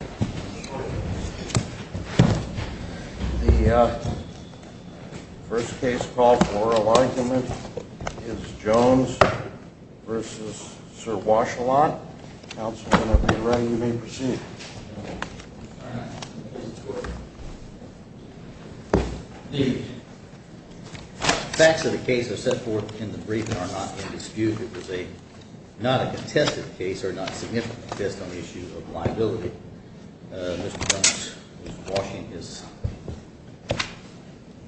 The facts of the case are set forth in the briefing are not a dispute, it was not a contested The facts of the case are not significant on the issue of liability. Mr. Thomas was washing his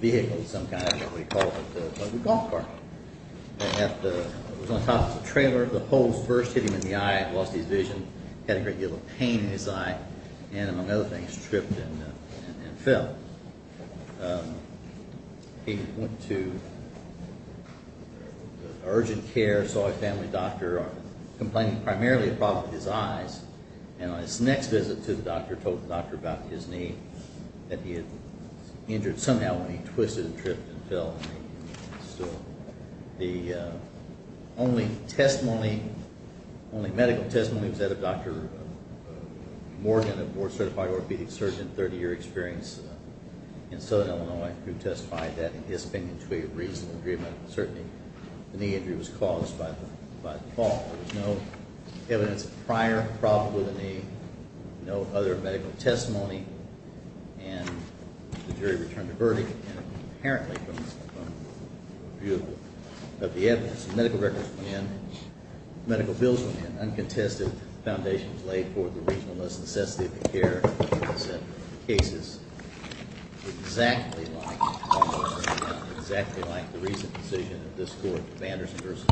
vehicle, some kind of, I don't know what he called it, a golf cart. It was on top of the trailer, the holes first hit him in the eye, lost his vision, had a great deal of pain in his eye, and among other things, tripped and fell. He went to urgent care, saw a family doctor, complaining primarily of problems with his eyes, and on his next visit to the doctor, told the doctor about his knee, that he had injured somehow when he twisted and tripped and fell. So the only testimony, only medical testimony was that of Dr. Morgan, a board certified orthopedic surgeon, 30 year experience in Southern Illinois, who testified that in his opinion to a reasonable degree of medical certainty, the knee injury was caused by the fall. There was no evidence of prior problem with the knee, no other medical testimony, and the jury returned the verdict, and apparently from the view of the evidence, medical records went in, medical bills went in, uncontested, the foundation was laid for the reasonableness and necessity of the care. The case is exactly like, almost exactly like the recent decision of this court, Vanderson v.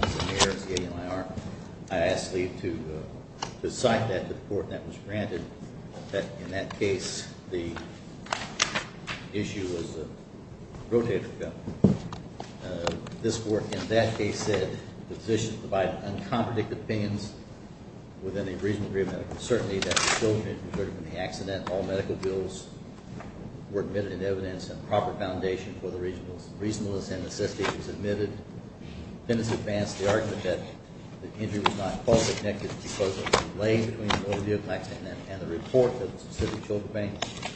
McNair, I asked Lee to cite that to the court, and that was granted. In that case, the issue was rotated. And I think this court in that case said the position provided uncompredicted opinions within a reasonable degree of medical certainty that the children had been hurt in the accident, all medical bills were admitted in evidence, and proper foundation for the reasonableness and necessity was admitted. The defendants advanced the argument that the injury was not caused or connected because of the delay between the overview of the accident and the report of the specific children's pain.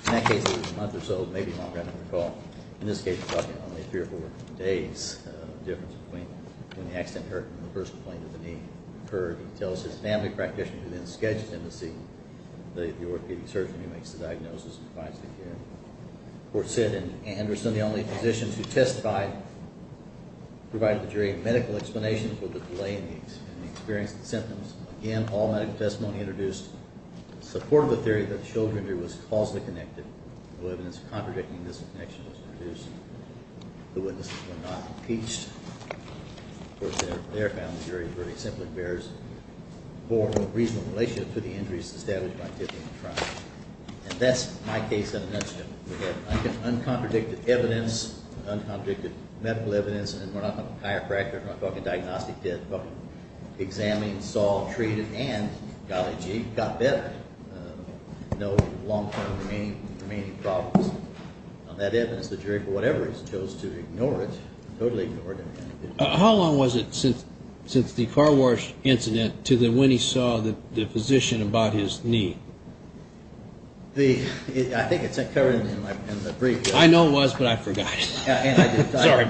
In that case, it was a month or so, maybe longer, I don't recall. In this case, it was only three or four days of difference between when the accident occurred and the first complaint of the knee occurred. It tells his family practitioner who then sketched him to see the orthopedic surgeon who makes the diagnosis and provides the care. The court said that Anderson and the only physicians who testified provided the jury medical explanations for the delay in the experience of the symptoms. Again, all medical testimony introduced support of the theory that the children injury was causally connected. No evidence of contradicting this connection was produced. The witnesses were not impeached. Of course, their family jury verdict simply bears more of a reasonable relationship to the injuries established by Tiffany and Tron. And that's my case at an incident. How long was it since the car wash incident to when he saw the physician about his knee? I think it's covered in the brief. I know it was, but I forgot.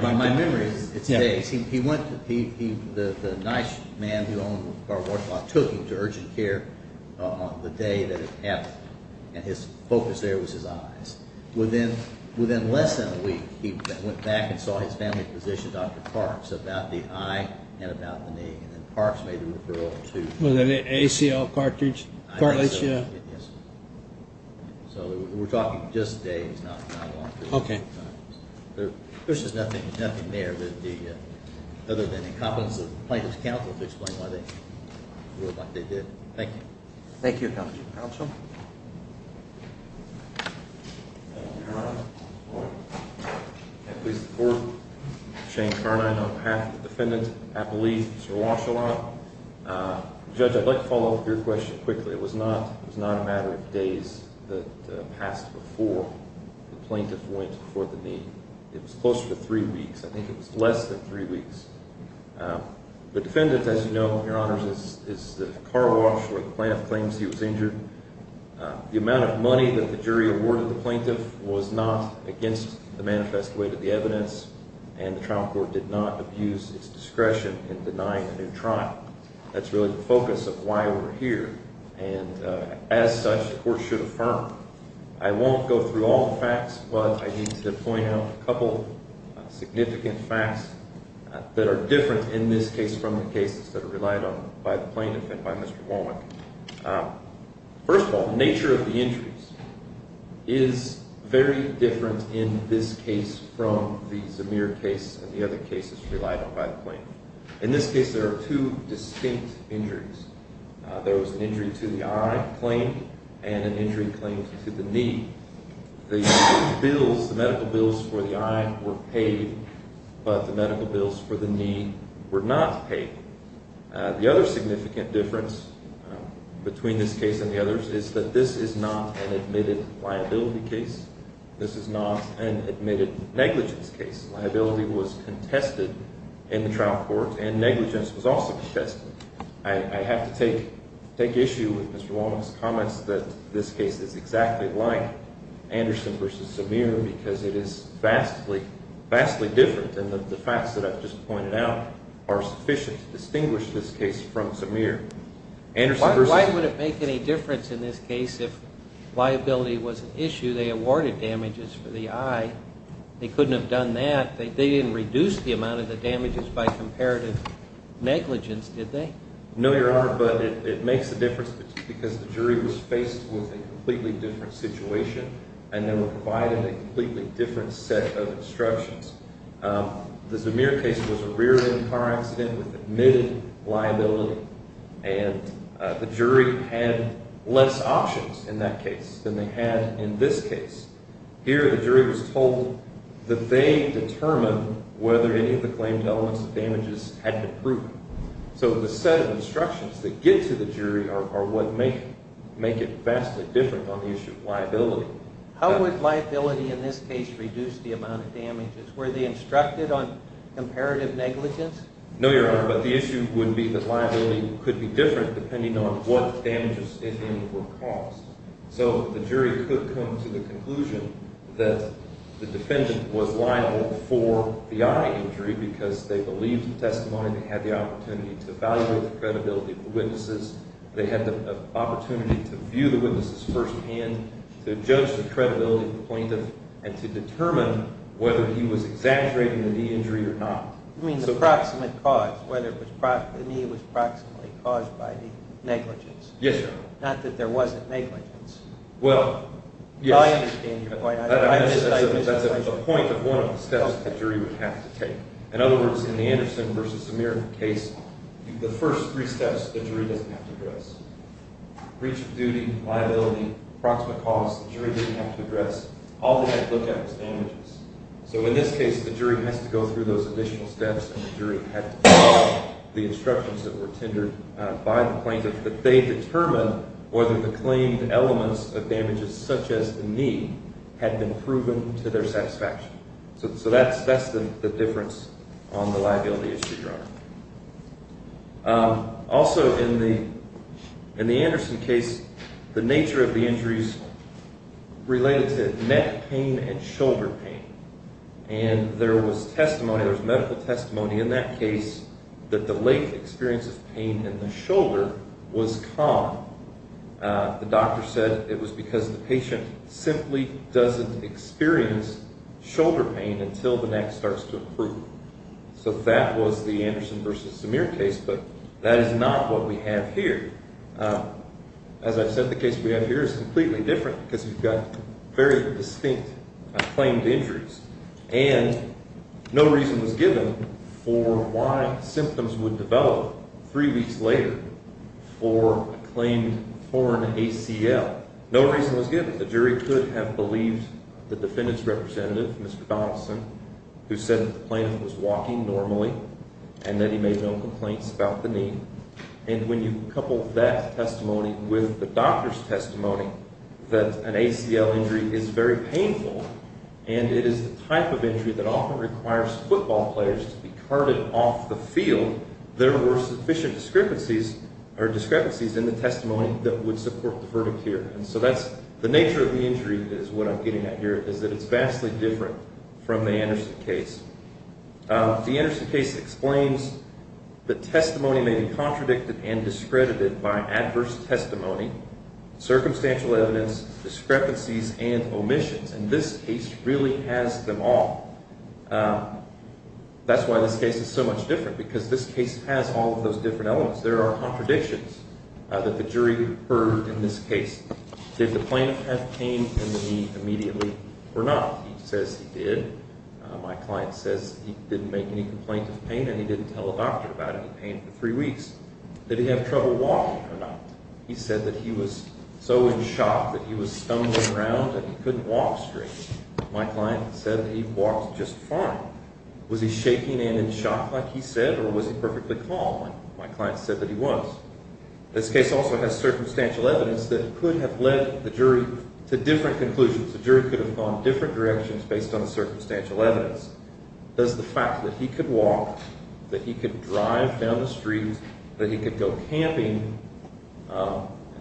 My memory is it's days. The nice man who owned the car wash took him to urgent care on the day that it happened. His focus there was his eyes. Within less than a week, he went back and saw his family physician, Dr. Parks, about the eye and about the knee. Was it an ACL cartridge? Yes. So we're talking just days, not long. Okay. There's just nothing there other than the incompetence of the plaintiff's counsel to explain why they did what they did. Thank you. Thank you, Accomplice Counsel. Your Honor, can I please report? Shane Carnine on behalf of the defendant, I believe, Mr. Washalot. Judge, I'd like to follow up with your question quickly. It was not a matter of days that passed before the plaintiff went for the knee. It was closer to three weeks. I think it was less than three weeks. The defendant, as you know, Your Honor, is the car wash where the plaintiff claims he was injured. The amount of money that the jury awarded the plaintiff was not against the manifest way to the evidence, and the trial court did not abuse its discretion in denying a new trial. That's really the focus of why we're here, and as such, the court should affirm. I won't go through all the facts, but I need to point out a couple significant facts that are different in this case from the cases that are relied on by the plaintiff and by Mr. Horwick. First of all, the nature of the injuries is very different in this case from the Zemir case and the other cases relied on by the plaintiff. In this case, there are two distinct injuries. There was an injury to the eye claimed and an injury claimed to the knee. The medical bills for the eye were paid, but the medical bills for the knee were not paid. The other significant difference between this case and the others is that this is not an admitted liability case. This is not an admitted negligence case. Liability was contested in the trial court, and negligence was also contested. I have to take issue with Mr. Womack's comments that this case is exactly like Anderson v. Zemir because it is vastly different, and the facts that I've just pointed out are sufficient to distinguish this case from Zemir. Why would it make any difference in this case if liability was an issue? They awarded damages for the eye. They couldn't have done that. They didn't reduce the amount of the damages by comparative negligence, did they? No, Your Honor, but it makes a difference because the jury was faced with a completely different situation and they were provided a completely different set of instructions. The Zemir case was a rear-end car accident with admitted liability, and the jury had less options in that case than they had in this case. Here, the jury was told that they determined whether any of the claimed elements of damages had been proven. So the set of instructions that get to the jury are what make it vastly different on the issue of liability. How would liability in this case reduce the amount of damages? Were they instructed on comparative negligence? No, Your Honor, but the issue would be that liability could be different depending on what damages it would cost. So the jury could come to the conclusion that the defendant was liable for the eye injury because they believed the testimony, they had the opportunity to evaluate the credibility of the witnesses, they had the opportunity to view the witnesses firsthand, to judge the credibility of the plaintiff, and to determine whether he was exaggerating the knee injury or not. You mean the proximate cause, whether the knee was proximately caused by the negligence. Yes, Your Honor. Not that there wasn't negligence. Well, yes. I understand your point. That's the point of one of the steps the jury would have to take. In other words, in the Anderson v. Samir case, the first three steps the jury doesn't have to address. Breach of duty, liability, proximate cause, the jury doesn't have to address. All they have to look at is damages. So in this case, the jury has to go through those additional steps, and the jury had to follow the instructions that were tendered by the plaintiff, that they determine whether the claimed elements of damages such as the knee had been proven to their satisfaction. So that's the difference on the liability issue, Your Honor. Also, in the Anderson case, the nature of the injuries related to neck pain and shoulder pain. And there was testimony, there was medical testimony in that case that the late experience of pain in the shoulder was common. The doctor said it was because the patient simply doesn't experience shoulder pain until the neck starts to improve. So that was the Anderson v. Samir case, but that is not what we have here. As I've said, the case we have here is completely different because we've got very distinct claimed injuries. And no reason was given for why symptoms would develop three weeks later for a claimed foreign ACL. No reason was given. The jury could have believed the defendant's representative, Mr. Donelson, who said that the plaintiff was walking normally and that he made no complaints about the knee. And when you couple that testimony with the doctor's testimony that an ACL injury is very painful, and it is the type of injury that often requires football players to be carted off the field, there were sufficient discrepancies in the testimony that would support the verdict here. And so that's the nature of the injury is what I'm getting at here, is that it's vastly different from the Anderson case. The Anderson case explains that testimony may be contradicted and discredited by adverse testimony, circumstantial evidence, discrepancies, and omissions. And this case really has them all. That's why this case is so much different because this case has all of those different elements. There are contradictions that the jury heard in this case. Did the plaintiff have pain in the knee immediately or not? He says he did. My client says he didn't make any complaints of pain and he didn't tell a doctor about any pain for three weeks. Did he have trouble walking or not? He said that he was so in shock that he was stumbling around and he couldn't walk straight. My client said that he walked just fine. Was he shaking and in shock like he said or was he perfectly calm like my client said that he was? This case also has circumstantial evidence that could have led the jury to different conclusions. The jury could have gone different directions based on the circumstantial evidence. Does the fact that he could walk, that he could drive down the street, that he could go camping,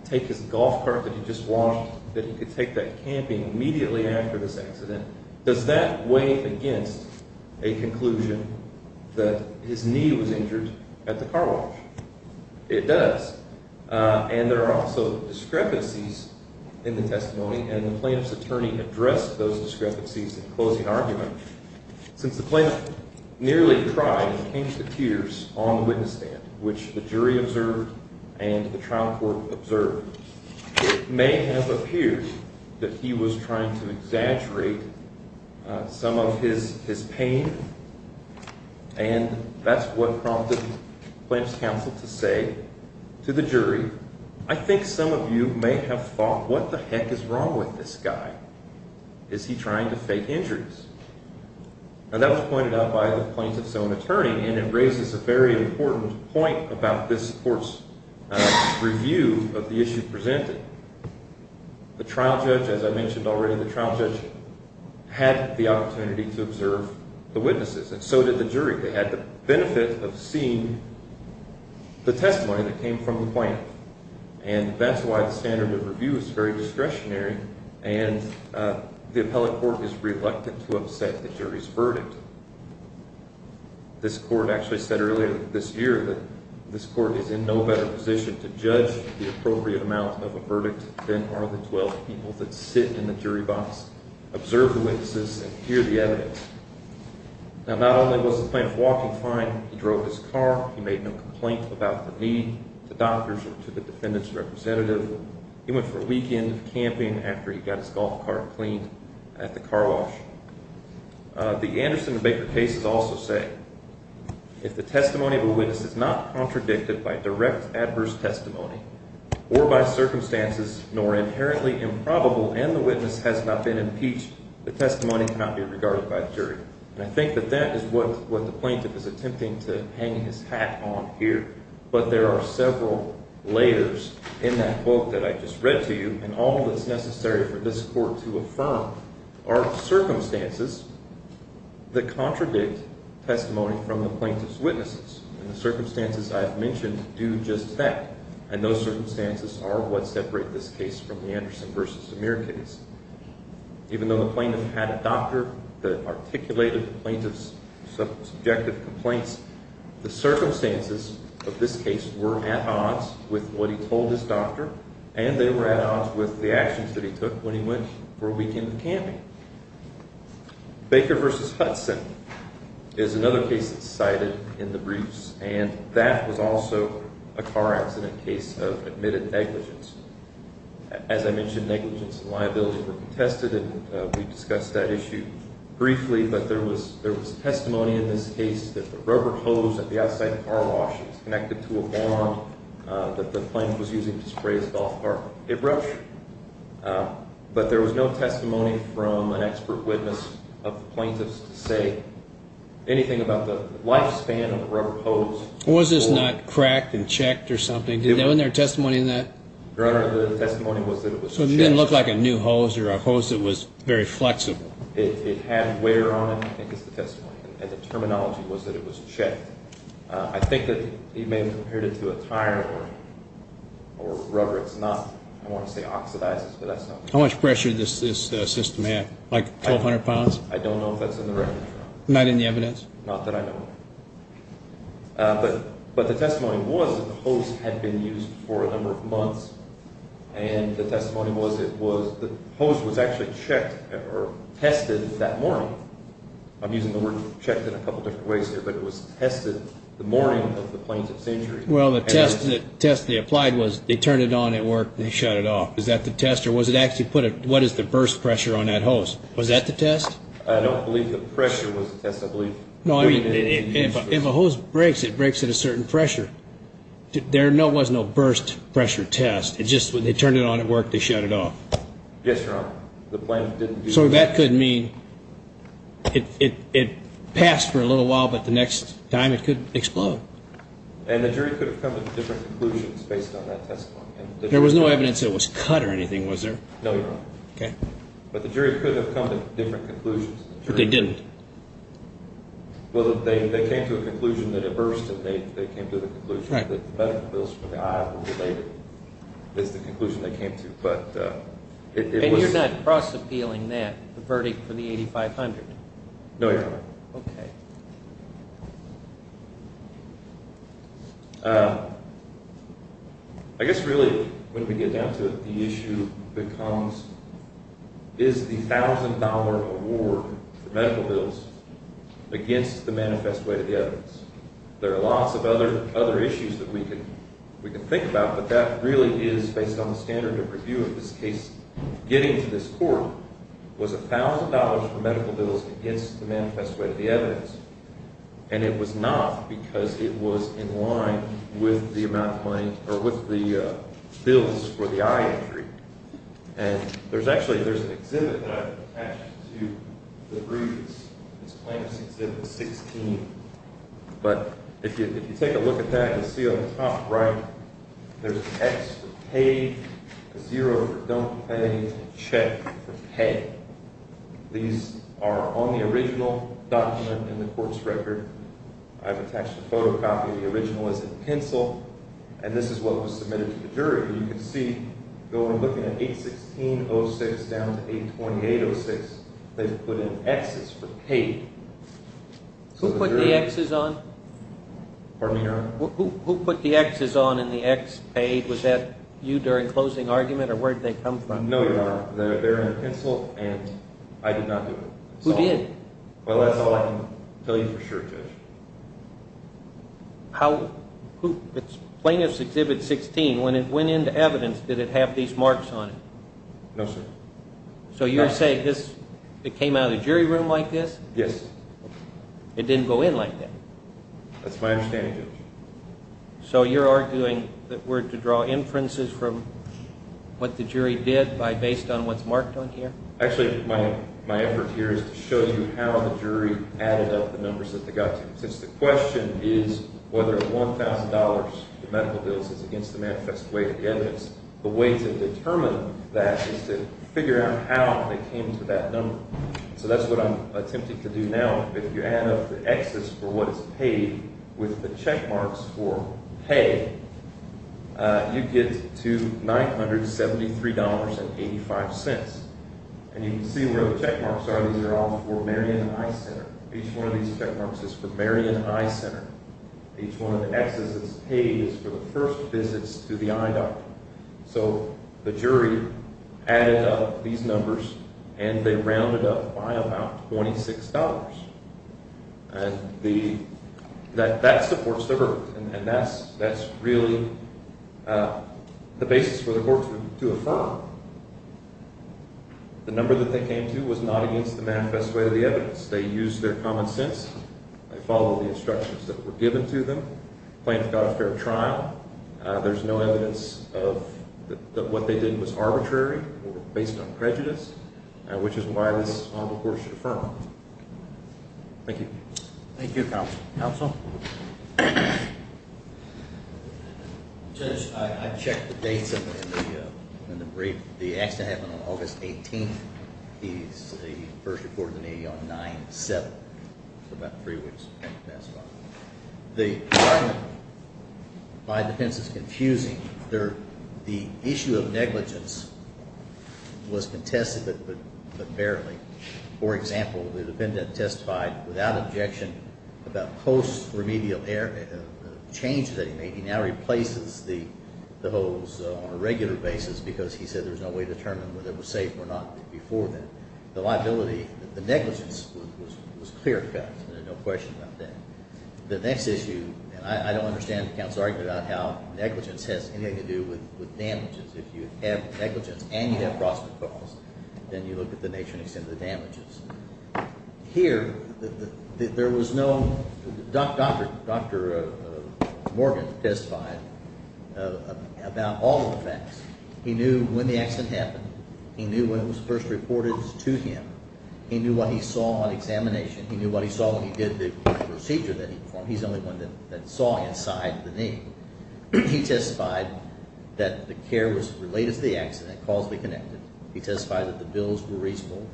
take his golf cart that he just washed, that he could take that camping immediately after this accident, does that weigh against a conclusion that his knee was injured at the car wash? It does. And there are also discrepancies in the testimony and the plaintiff's attorney addressed those discrepancies in closing argument. Since the plaintiff nearly cried and came to tears on the witness stand, which the jury observed and the trial court observed, it may have appeared that he was trying to exaggerate some of his pain and that's what prompted the plaintiff's counsel to say to the jury, I think some of you may have thought what the heck is wrong with this guy? Is he trying to fake injuries? And that was pointed out by the plaintiff's own attorney and it raises a very important point about this court's review of the issue presented. The trial judge, as I mentioned already, the trial judge had the opportunity to observe the witnesses and so did the jury. They had the benefit of seeing the testimony that came from the plaintiff and that's why the standard of review is very discretionary and the appellate court is reluctant to upset the jury's verdict. This court actually said earlier this year that this court is in no better position to judge the appropriate amount of a verdict than are the 12 people that sit in the jury box, observe the witnesses, and hear the evidence. Now not only was the plaintiff walking fine, he drove his car, he made no complaint about the need to doctors or to the defendant's representative, he went for a weekend of camping after he got his golf cart cleaned at the car wash. The Anderson and Baker cases also say if the testimony of a witness is not contradicted by direct adverse testimony or by circumstances nor inherently improbable and the witness has not been impeached, the testimony cannot be regarded by the jury. And I think that that is what the plaintiff is attempting to hang his hat on here. But there are several layers in that quote that I just read to you and all that's necessary for this court to affirm are circumstances that contradict testimony from the plaintiff's witnesses. And the circumstances I have mentioned do just that. And those circumstances are what separate this case from the Anderson v. Samir case. Even though the plaintiff had a doctor that articulated the plaintiff's subjective complaints, the circumstances of this case were at odds with what he told his doctor and they were at odds with the actions that he took when he went for a weekend of camping. Baker v. Hudson is another case that's cited in the briefs and that was also a car accident case of admitted negligence. As I mentioned, negligence and liability were contested and we discussed that issue briefly, but there was testimony in this case that the rubber hose at the outside car wash was connected to a bomb that the plaintiff was using to spray his golf cart with a brush. But there was no testimony from an expert witness of the plaintiff's to say anything about the lifespan of the rubber hose. Was this not cracked and checked or something? Wasn't there testimony in that? Your Honor, the testimony was that it was checked. So it didn't look like a new hose or a hose that was very flexible. It had wear on it, I think is the testimony, and the terminology was that it was checked. I think that he may have compared it to a tire or rubber. It's not, I don't want to say oxidizes, but that's not. How much pressure did this system have, like 1,200 pounds? I don't know if that's in the record. Not in the evidence? Not that I know of. And the testimony was that the hose was actually checked or tested that morning. I'm using the word checked in a couple different ways here, but it was tested the morning of the plaintiff's injury. Well, the test they applied was they turned it on at work and they shut it off. Is that the test, or was it actually put a, what is the burst pressure on that hose? Was that the test? I don't believe the pressure was the test. No, I mean, if a hose breaks, it breaks at a certain pressure. There was no burst pressure test. It's just when they turned it on at work, they shut it off. Yes, Your Honor. The plaintiff didn't do that. So that could mean it passed for a little while, but the next time it could explode. And the jury could have come to different conclusions based on that testimony. There was no evidence it was cut or anything, was there? No, Your Honor. Okay. But the jury could have come to different conclusions. But they didn't? Well, they came to a conclusion that it burst, and they came to the conclusion that the medical bills for the eye were related. That's the conclusion they came to. And you're not cross-appealing that, the verdict for the 8500? No, Your Honor. Okay. I guess really, when we get down to it, the issue becomes, is the $1,000 award for medical bills against the manifest way to the evidence. There are lots of other issues that we could think about, but that really is based on the standard of review of this case. Getting to this court was $1,000 for medical bills against the manifest way to the evidence, and it was not because it was in line with the amount of money or with the bills for the eye injury. And there's actually an exhibit that I've attached to the briefs. It's Claims Exhibit 16. But if you take a look at that, you'll see on the top, right, there's an X for pay, a zero for don't pay, and a check for pay. These are on the original document in the court's record. I've attached a photocopy of the original as a pencil, and this is what was submitted to the jury. You can see, looking at 816.06 down to 828.06, they've put in Xs for paid. Who put the Xs on? Pardon me, Your Honor? Who put the Xs on in the X paid? Was that you during closing argument, or where did they come from? No, Your Honor. They're in a pencil, and I did not do it. Well, that's all I can tell you for sure, Judge. Plaintiff's Exhibit 16, when it went into evidence, did it have these marks on it? No, sir. So you're saying it came out of the jury room like this? Yes. It didn't go in like that? That's my understanding, Judge. So you're arguing that we're to draw inferences from what the jury did based on what's marked on here? Actually, my effort here is to show you how the jury added up the numbers that they got. Since the question is whether $1,000 in medical bills is against the manifest way of the evidence, the way to determine that is to figure out how they came to that number. So that's what I'm attempting to do now. If you add up the Xs for what is paid with the check marks for pay, you get to $973.85. And you can see where the check marks are. These are all for Marion Eye Center. Each one of these check marks is for Marion Eye Center. Each one of the Xs is paid for the first visits to the eye doctor. So the jury added up these numbers, and they rounded up by about $26. And that supports the verdict, and that's really the basis for the court to affirm. The number that they came to was not against the manifest way of the evidence. They used their common sense. They followed the instructions that were given to them. Planned for God's fair trial. There's no evidence that what they did was arbitrary or based on prejudice, which is why this is all the court should affirm. Thank you. Thank you, counsel. Counsel? Judge, I checked the dates in the brief. The accident happened on August 18th. He's first reported to me on 9-7. About three weeks passed by. The argument by the defense is confusing. The issue of negligence was contested but barely. For example, the defendant testified without objection about post-remedial change that he made. He now replaces the holes on a regular basis because he said there's no way to determine whether it was safe or not before then. The liability, the negligence was clear cut. There's no question about that. The next issue, and I don't understand the counsel's argument about how negligence has anything to do with damages. If you have negligence and you have cross-referrals, then you look at the nature and extent of the damages. Here, there was no – Dr. Morgan testified about all of the facts. He knew when the accident happened. He knew when it was first reported to him. He knew what he saw on examination. He knew what he saw when he did the procedure that he performed. He's the only one that saw inside the knee. He testified that the care was related to the accident, causally connected. He testified that the bills were reasonable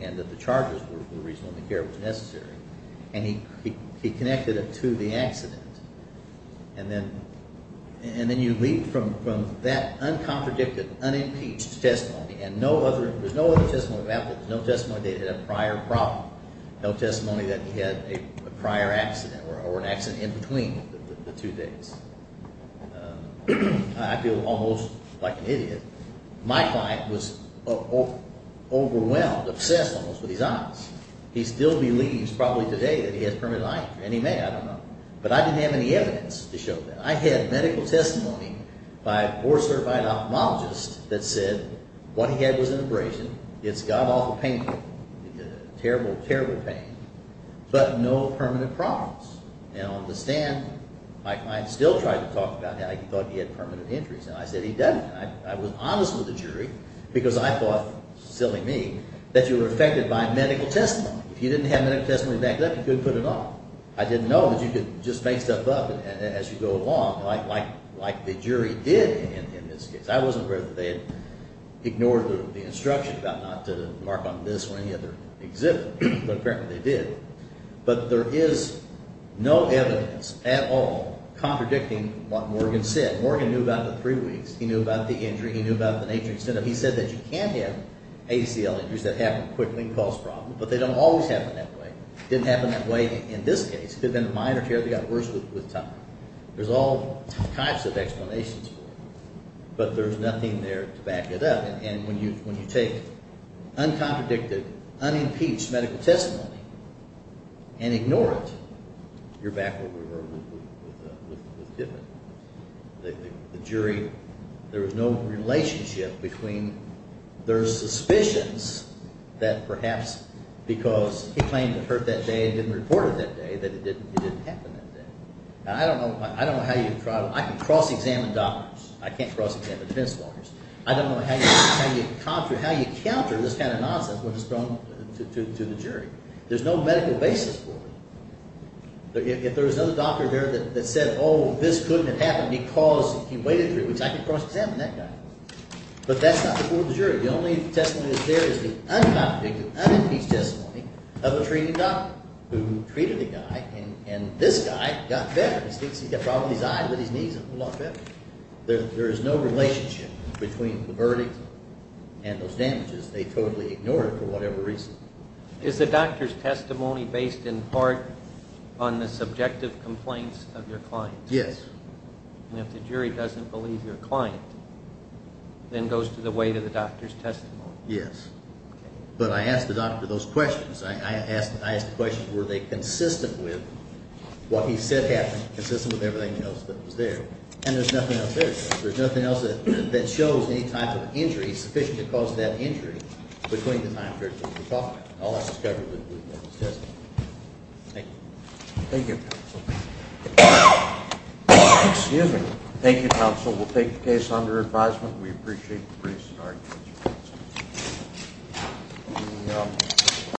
and that the charges were reasonable and the care was necessary. And he connected it to the accident. And then you leap from that uncontradicted, unimpeached testimony, and no other – there's no other testimony of that. There's no testimony that they had a prior problem. No testimony that he had a prior accident or an accident in between the two things. I feel almost like an idiot. My client was overwhelmed, obsessed almost with his eyes. He still believes probably today that he has permanent eye injury, and he may. I don't know. But I didn't have any evidence to show that. I had medical testimony by a board-certified ophthalmologist that said what he had was an abrasion. It's got off a painful, terrible, terrible pain, but no permanent problems. And on the stand, my client still tried to talk about how he thought he had permanent injuries. And I said he doesn't. And I was honest with the jury because I thought, silly me, that you were affected by medical testimony. If you didn't have medical testimony backed up, you couldn't put it on. I didn't know that you could just make stuff up as you go along like the jury did in this case. I wasn't aware that they had ignored the instruction about not to mark on this or any other exhibit, but apparently they did. But there is no evidence at all contradicting what Morgan said. Morgan knew about the three weeks. He knew about the injury. He knew about the nature and extent of it. He said that you can have ACL injuries that happen quickly and cause problems, but they don't always happen that way. It didn't happen that way in this case. It could have been a minor tear that got worse with time. There's all types of explanations for it. But there's nothing there to back it up. And when you take uncompredicted, unimpeached medical testimony and ignore it, you're back where we were with Dippen. The jury, there was no relationship between their suspicions that perhaps because he claimed it hurt that day and didn't report it that day, that it didn't happen that day. Now, I don't know how you can cross-examine doctors. I can't cross-examine defense lawyers. I don't know how you counter this kind of nonsense when it's thrown to the jury. There's no medical basis for it. If there was another doctor there that said, oh, this couldn't have happened because he waited three weeks, I could cross-examine that guy. But that's not before the jury. The only testimony that's there is the uncompredicted, unimpeached testimony of a treating doctor who treated the guy, and this guy got better. He's got problems with his eyes, with his knees. There is no relationship between the verdict and those damages. They totally ignored it for whatever reason. Is the doctor's testimony based in part on the subjective complaints of your client? Yes. And if the jury doesn't believe your client, then it goes to the weight of the doctor's testimony. Yes. But I asked the doctor those questions. I asked the question, were they consistent with what he said happened, consistent with everything else that was there? And there's nothing else there. There's nothing else that shows any type of injury sufficient to cause that injury between the time period that we're talking about. All that's covered with his testimony. Thank you. Thank you, counsel. Excuse me. Thank you, counsel. We'll take the case under advisement. We appreciate the briefs and arguments.